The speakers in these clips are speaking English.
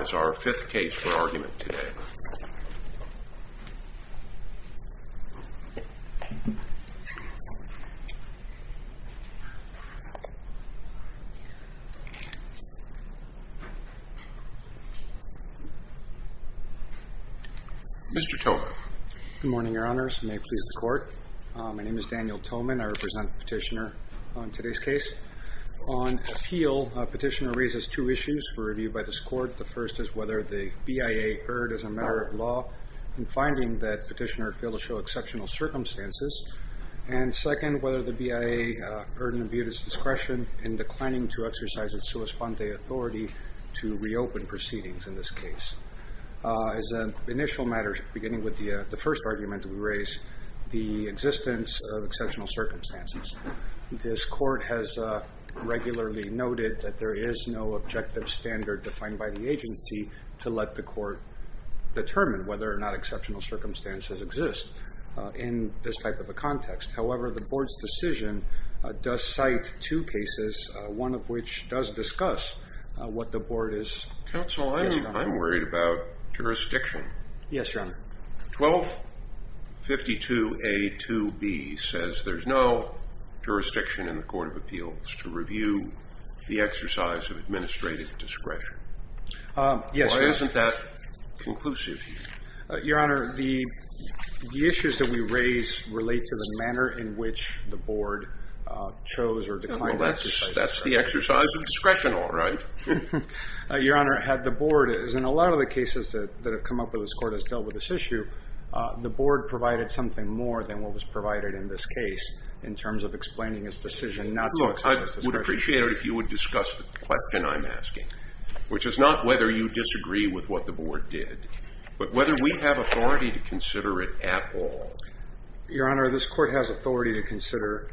is our fifth case for argument today. Mr. Towman. Good morning, your honors. May it please the court. My name is Daniel Towman. I represent the petitioner on today's case. On appeal, petitioner raises two issues for review by this court. The first is whether the BIA erred as a matter of law in finding that petitioner failed to show exceptional circumstances. And second, whether the BIA erred in imbued its discretion in declining to exercise its sua sponte authority to reopen proceedings in this case. As an initial matter, beginning with the first argument we raised, the existence of exceptional circumstances. This court has regularly noted that there is no objective standard defined by the agency to let the court determine whether or not exceptional circumstances exist in this type of a context. However, the board's decision does cite two cases, one of which does discuss what the board is... Counsel, I'm worried about jurisdiction. Yes, your honor. 1252A2B says there's no jurisdiction in the court of appeals to review the exercise of administrative discretion. Why isn't that conclusive? Your honor, the issues that we raise relate to the manner in which the board chose or declined... That's the exercise of discretion, all right. Your honor, the board has, in a lot of the cases that have come up that this court has dealt with this issue, the board provided something more than what was provided in this case in terms of explaining its decision not to exercise discretion. I would appreciate it if you would discuss the question I'm asking, which is not whether you disagree with what the board did, but whether we have authority to consider it at all. Your honor, this court has authority to consider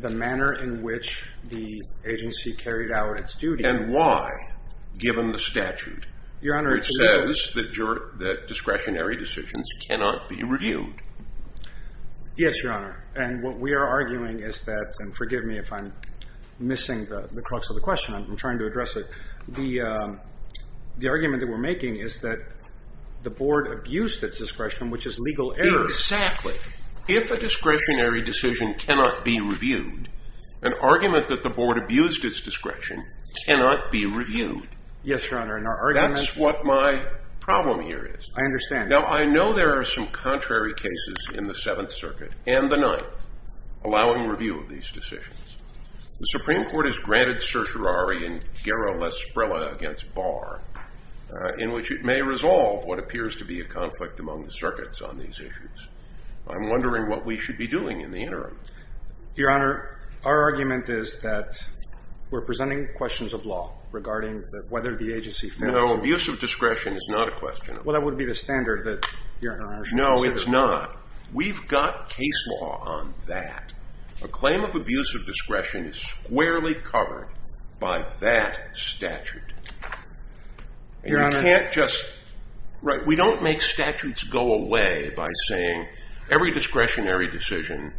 the manner in which the agency carried out its duty... And why, given the statute? It says that discretionary decisions cannot be reviewed. Yes, your honor, and what we are arguing is that, and forgive me if I'm missing the crux of the question, I'm trying to address it. The argument that we're making is that the board abused its discretion, which is legal error. Exactly. If a discretionary decision cannot be reviewed, an argument that the board abused its discretion cannot be reviewed. Yes, your honor, and our argument... That's what my problem here is. I understand. Now, I know there are some contrary cases in the Seventh Circuit and the Ninth allowing review of these decisions. The Supreme Court has granted certiorari in Guerra-Lesbrella against Barr in which it may resolve what appears to be a conflict among the circuits on these issues. I'm wondering what we should be doing in the interim. Your honor, our argument is that we're presenting questions of law regarding whether the agency failed to... No, abuse of discretion is not a question. Well, that would be the standard that your honor should consider. No, it's not. We've got case law on that. A claim of abuse of discretion is squarely covered by that statute. Your honor... And you can't just... Right, we don't make statutes go away by saying every discretionary decision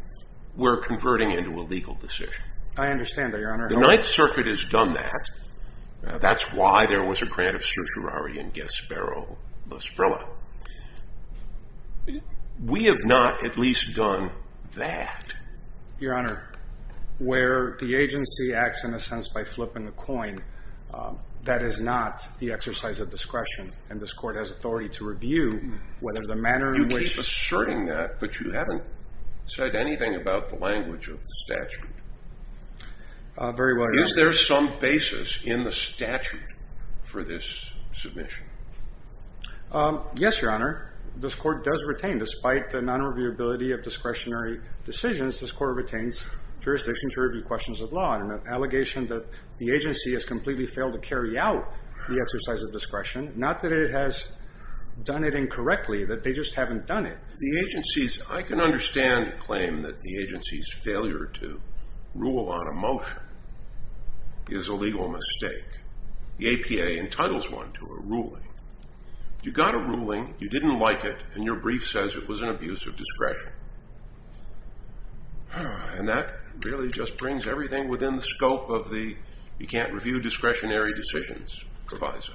we're converting into a legal decision. I understand that, your honor. The Ninth Circuit has done that. That's why there was a grant of certiorari in Guerra-Lesbrella. We have not at least done that. Your honor, where the agency acts in a sense by flipping the coin, that is not the exercise of discretion and this court has authority to review whether the manner in which... You keep asserting that, but you haven't said anything about the language of the statute. Very well, your honor. Is there some basis in the statute for this submission? Yes, your honor. This court does retain, despite the non-reviewability of discretionary decisions, this court retains jurisdiction to review questions of law and an allegation that the agency has completely failed to carry out the exercise of discretion, not that it has done it incorrectly, that they just haven't done it. I can understand a claim that the agency's failure to rule on a motion is a legal mistake. The APA entitles one to a ruling. You got a ruling, you didn't like it, and your brief says it was an abuse of discretion. And that really just brings everything within the scope of the you can't review discretionary decisions proviso.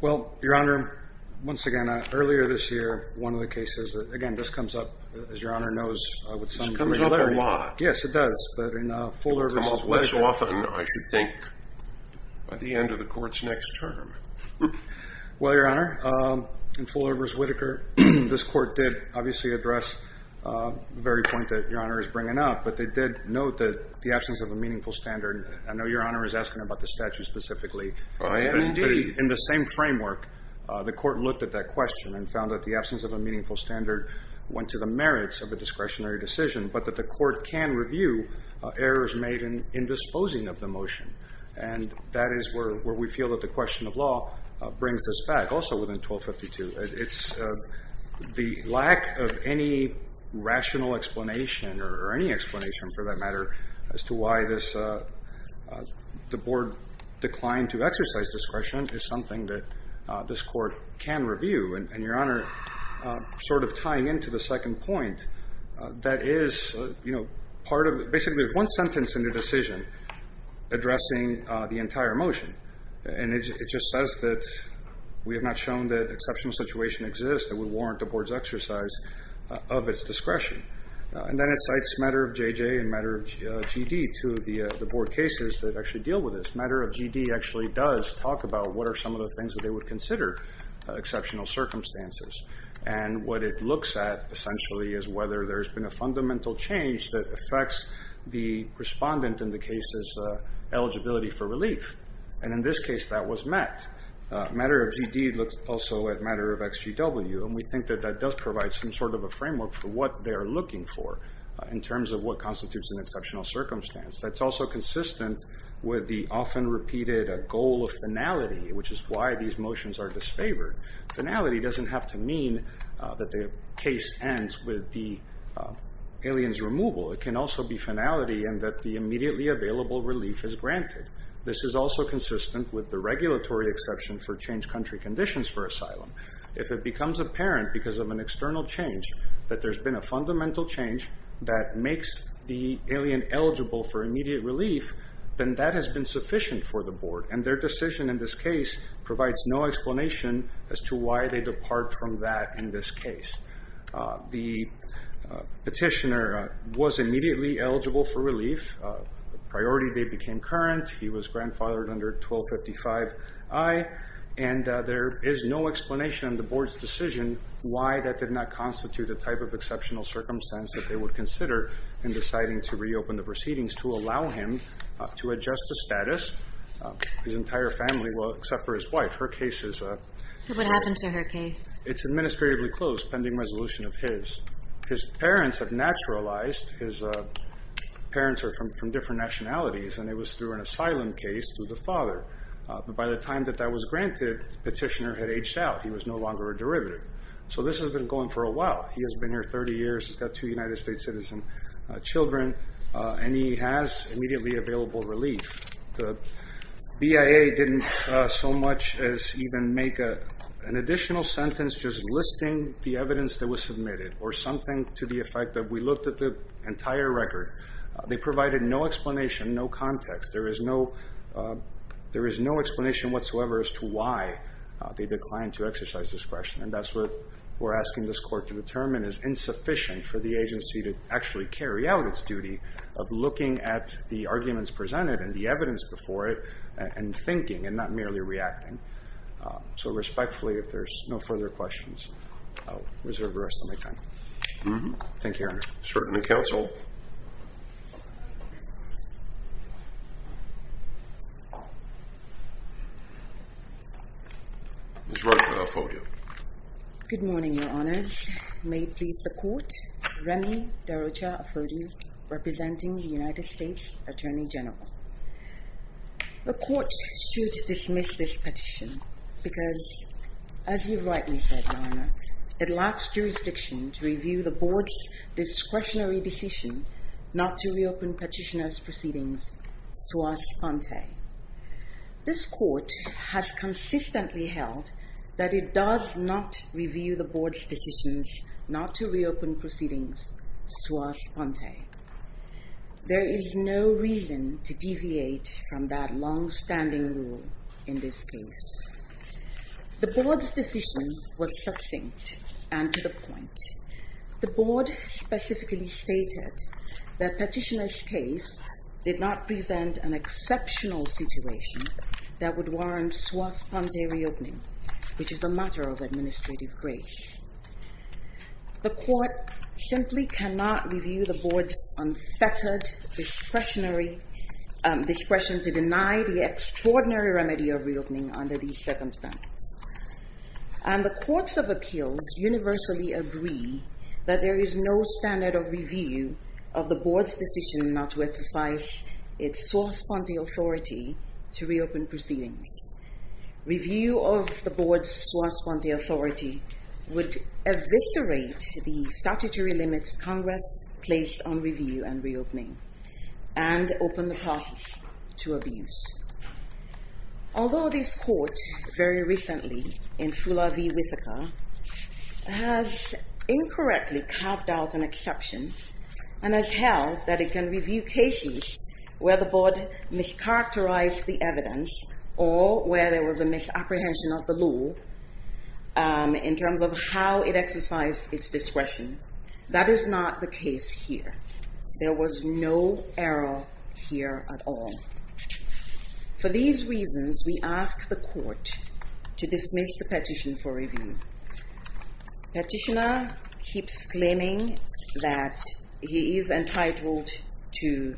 Well, your honor, once again, earlier this year, one of the cases that, again, this comes up, as your honor knows with some clarity. This comes up a lot. Yes, it does, but in Fuller v. Whitaker. It comes up less often, I should think, by the end of the court's next term. Well, your honor, in Fuller v. Whitaker, this court did obviously address the very point that your honor is bringing up, but they did note the absence of a meaningful standard. I know your honor is asking about the statute specifically. I am indeed. In the same framework, the court looked at that question and found that the absence of a meaningful standard went to the merits of a discretionary decision, but that the court can review errors made in disposing of the motion. And that is where we feel that the question of law brings us back, also within 1252. It's the lack of any rational explanation, or any explanation for that matter, as to why the board declined to exercise discretion is something that this court can review. And your honor, sort of tying into the second point, that is, you know, basically there's one sentence in the decision addressing the entire motion, and it just says that we have not shown that exceptional situation exists that would warrant the board's exercise of its discretion. And then it cites matter of JJ and matter of GD, two of the board cases that actually deal with this. Matter of GD actually does talk about what are some of the things that they would consider exceptional circumstances. And what it looks at, essentially, is whether there's been a fundamental change that affects the respondent in the case's eligibility for relief. And in this case, that was met. Matter of GD looks also at matter of XGW, and we think that that does provide some sort of a framework for what they are looking for in terms of what constitutes an exceptional circumstance. That's also consistent with the often repeated goal of finality, which is why these motions are disfavored. Finality doesn't have to mean that the case ends with the alien's removal. It can also be finality in that the immediately available relief is granted. This is also consistent with the regulatory exception for change country conditions for asylum. If it becomes apparent because of an external change that there's been a fundamental change that makes the alien eligible for immediate relief, then that has been sufficient for the board. And their decision in this case provides no explanation as to why they depart from that in this case. The petitioner was immediately eligible for relief. Priority day became current. He was grandfathered under 1255I. And there is no explanation in the board's decision why that did not constitute a type of exceptional circumstance that they would consider in deciding to reopen the proceedings to allow him to adjust to status. His entire family, except for his wife, her case is administratively closed, pending resolution of his. His parents have naturalized. His parents are from different nationalities, and it was through an asylum case through the father. By the time that that was granted, the petitioner had aged out. He was no longer a derivative. So this has been going for a while. He has been here 30 years. He's got two United States citizen children, and he has immediately available relief. The BIA didn't so much as even make an additional sentence just listing the evidence that was submitted or something to the effect that we looked at the entire record. They provided no explanation, no context. There is no explanation whatsoever as to why they declined to exercise discretion, and that's what we're asking this court to determine is insufficient for the agency to actually carry out its duty of looking at the arguments presented and the evidence before it and thinking and not merely reacting. So respectfully, if there's no further questions, I'll reserve the rest of my time. Thank you, Your Honor. Certainly, counsel. Ms. Rocha-Ofodio. Good morning, Your Honors. May it please the court, Remy de Rocha-Ofodio, representing the United States Attorney General. The court should dismiss this petition because, as you rightly said, Your Honor, it lacks jurisdiction to review the board's discretionary decision not to reopen petitioner's proceedings sua sponte. This court has consistently held that it does not review the board's decisions not to reopen proceedings sua sponte. There is no reason to deviate from that longstanding rule in this case. The board's decision was succinct and to the point. The board specifically stated that petitioner's case did not present an exceptional situation that would warrant sua sponte reopening, which is a matter of administrative grace. The court simply cannot review the board's unfettered discretionary, discretion to deny the extraordinary remedy of reopening under these circumstances. And the courts of appeals universally agree that there is no standard of review of the board's decision not to exercise its sua sponte authority to reopen proceedings. Review of the board's sua sponte authority would eviscerate the statutory limits Congress placed on review and reopening and open the process to abuse. Although this court very recently in Fula v. Whittaker has incorrectly carved out an exception and has held that it can review cases where the board mischaracterized the evidence or where there was a misapprehension of the law in terms of how it exercised its discretion, that is not the case here. There was no error here at all. For these reasons, we ask the court to dismiss the petition for review. Petitioner keeps claiming that he is entitled to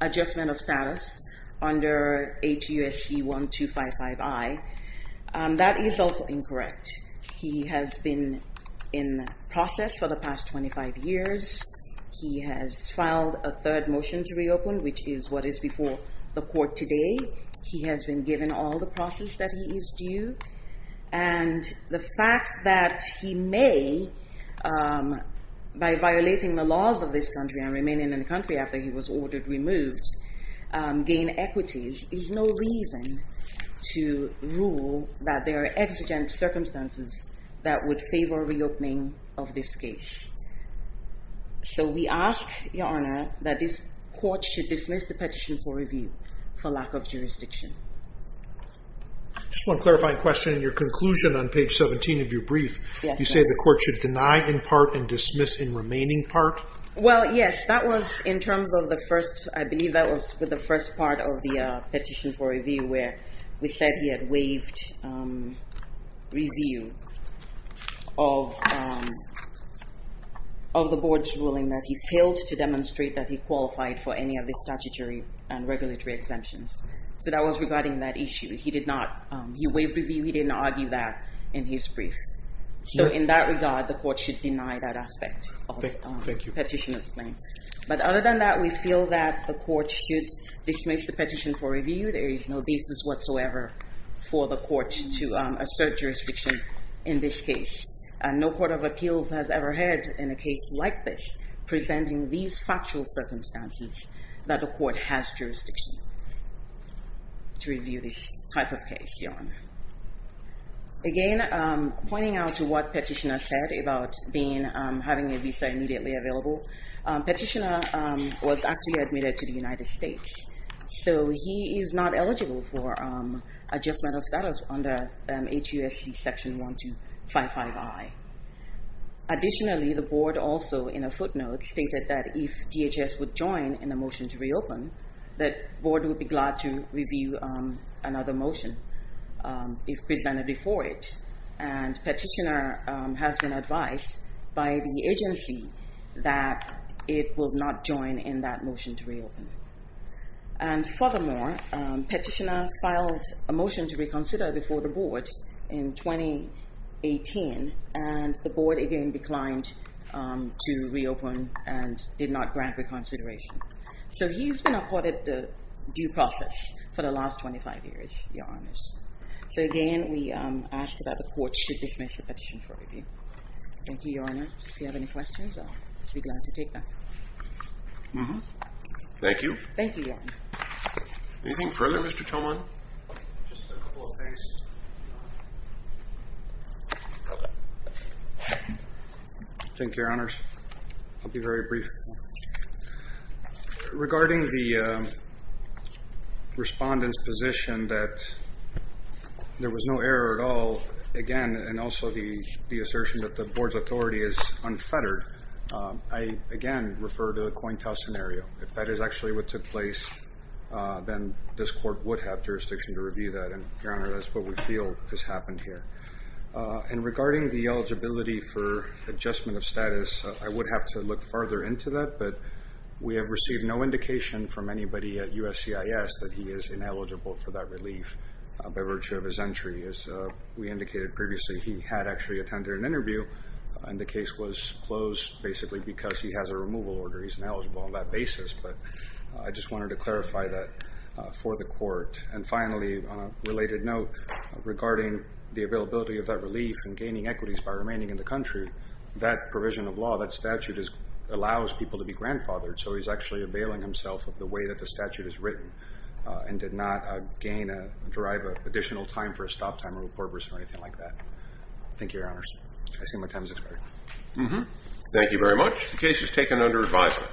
adjustment of status under HUSC 1255I. That is also incorrect. He has been in process for the past 25 years. He has filed a third motion to reopen, which is what is before the court today. He has been given all the process that he is due. And the fact that he may, by violating the laws of this country and remaining in the country after he was ordered removed, gain equities is no reason to rule that there are exigent circumstances that would favor reopening of this case. So we ask, Your Honor, that this court should dismiss the petition for review for lack of jurisdiction. Just one clarifying question. In your conclusion on page 17 of your brief, you say the court should deny in part and dismiss in remaining part? Well, yes. That was in terms of the first, I believe that was the first part of the petition for review where we said he had waived review of the board's ruling that he failed to demonstrate that he qualified for any of the statutory and regulatory exemptions. So that was regarding that issue. He did not. He waived review. He didn't argue that in his brief. So in that regard, the court should deny that aspect of the petitioner's claim. But other than that, we feel that the court should dismiss the petition for review. There is no business whatsoever for the court to assert jurisdiction in this case. And no court of appeals has ever heard in a case like this presenting these factual circumstances that the court has jurisdiction to review this type of case, Your Honor. Again, pointing out to what Petitioner said about having a visa immediately available, Petitioner was actually admitted to the United States. So he is not eligible for adjustment of status under HUSC Section 1255I. Additionally, the board also in a footnote stated that if DHS would join in the motion to reopen, the board would be glad to review another motion. If presented before it. And Petitioner has been advised by the agency that it will not join in that motion to reopen. And furthermore, Petitioner filed a motion to reconsider before the board in 2018. And the board again declined to reopen and did not grant reconsideration. So he's been accorded due process for the last 25 years, Your Honors. So again, we ask that the court should dismiss the petition for review. Thank you, Your Honors. If you have any questions, I'll be glad to take them. Thank you. Thank you, Your Honor. Anything further, Mr. Tillman? Just a couple of things. Thank you, Your Honors. I'll be very brief. Regarding the respondent's position that there was no error at all. Again, and also the assertion that the board's authority is unfettered. I again refer to the Cointel scenario. If that is actually what took place, then this court would have jurisdiction to review that. And Your Honor, that's what we feel has happened here. And regarding the eligibility for adjustment of status, I would have to look further into that. But we have received no indication from anybody at USCIS that he is ineligible for that relief by virtue of his entry. As we indicated previously, he had actually attended an interview. And the case was closed basically because he has a removal order. He's ineligible on that basis. But I just wanted to clarify that for the court. And finally, on a related note, regarding the availability of that relief and gaining equities by remaining in the country, that provision of law, that statute, allows people to be grandfathered. So he's actually availing himself of the way that the statute is written and did not gain, derive additional time for a stop time or a purpose or anything like that. Thank you, Your Honors. I see my time has expired. Thank you very much. The case is taken under advisement.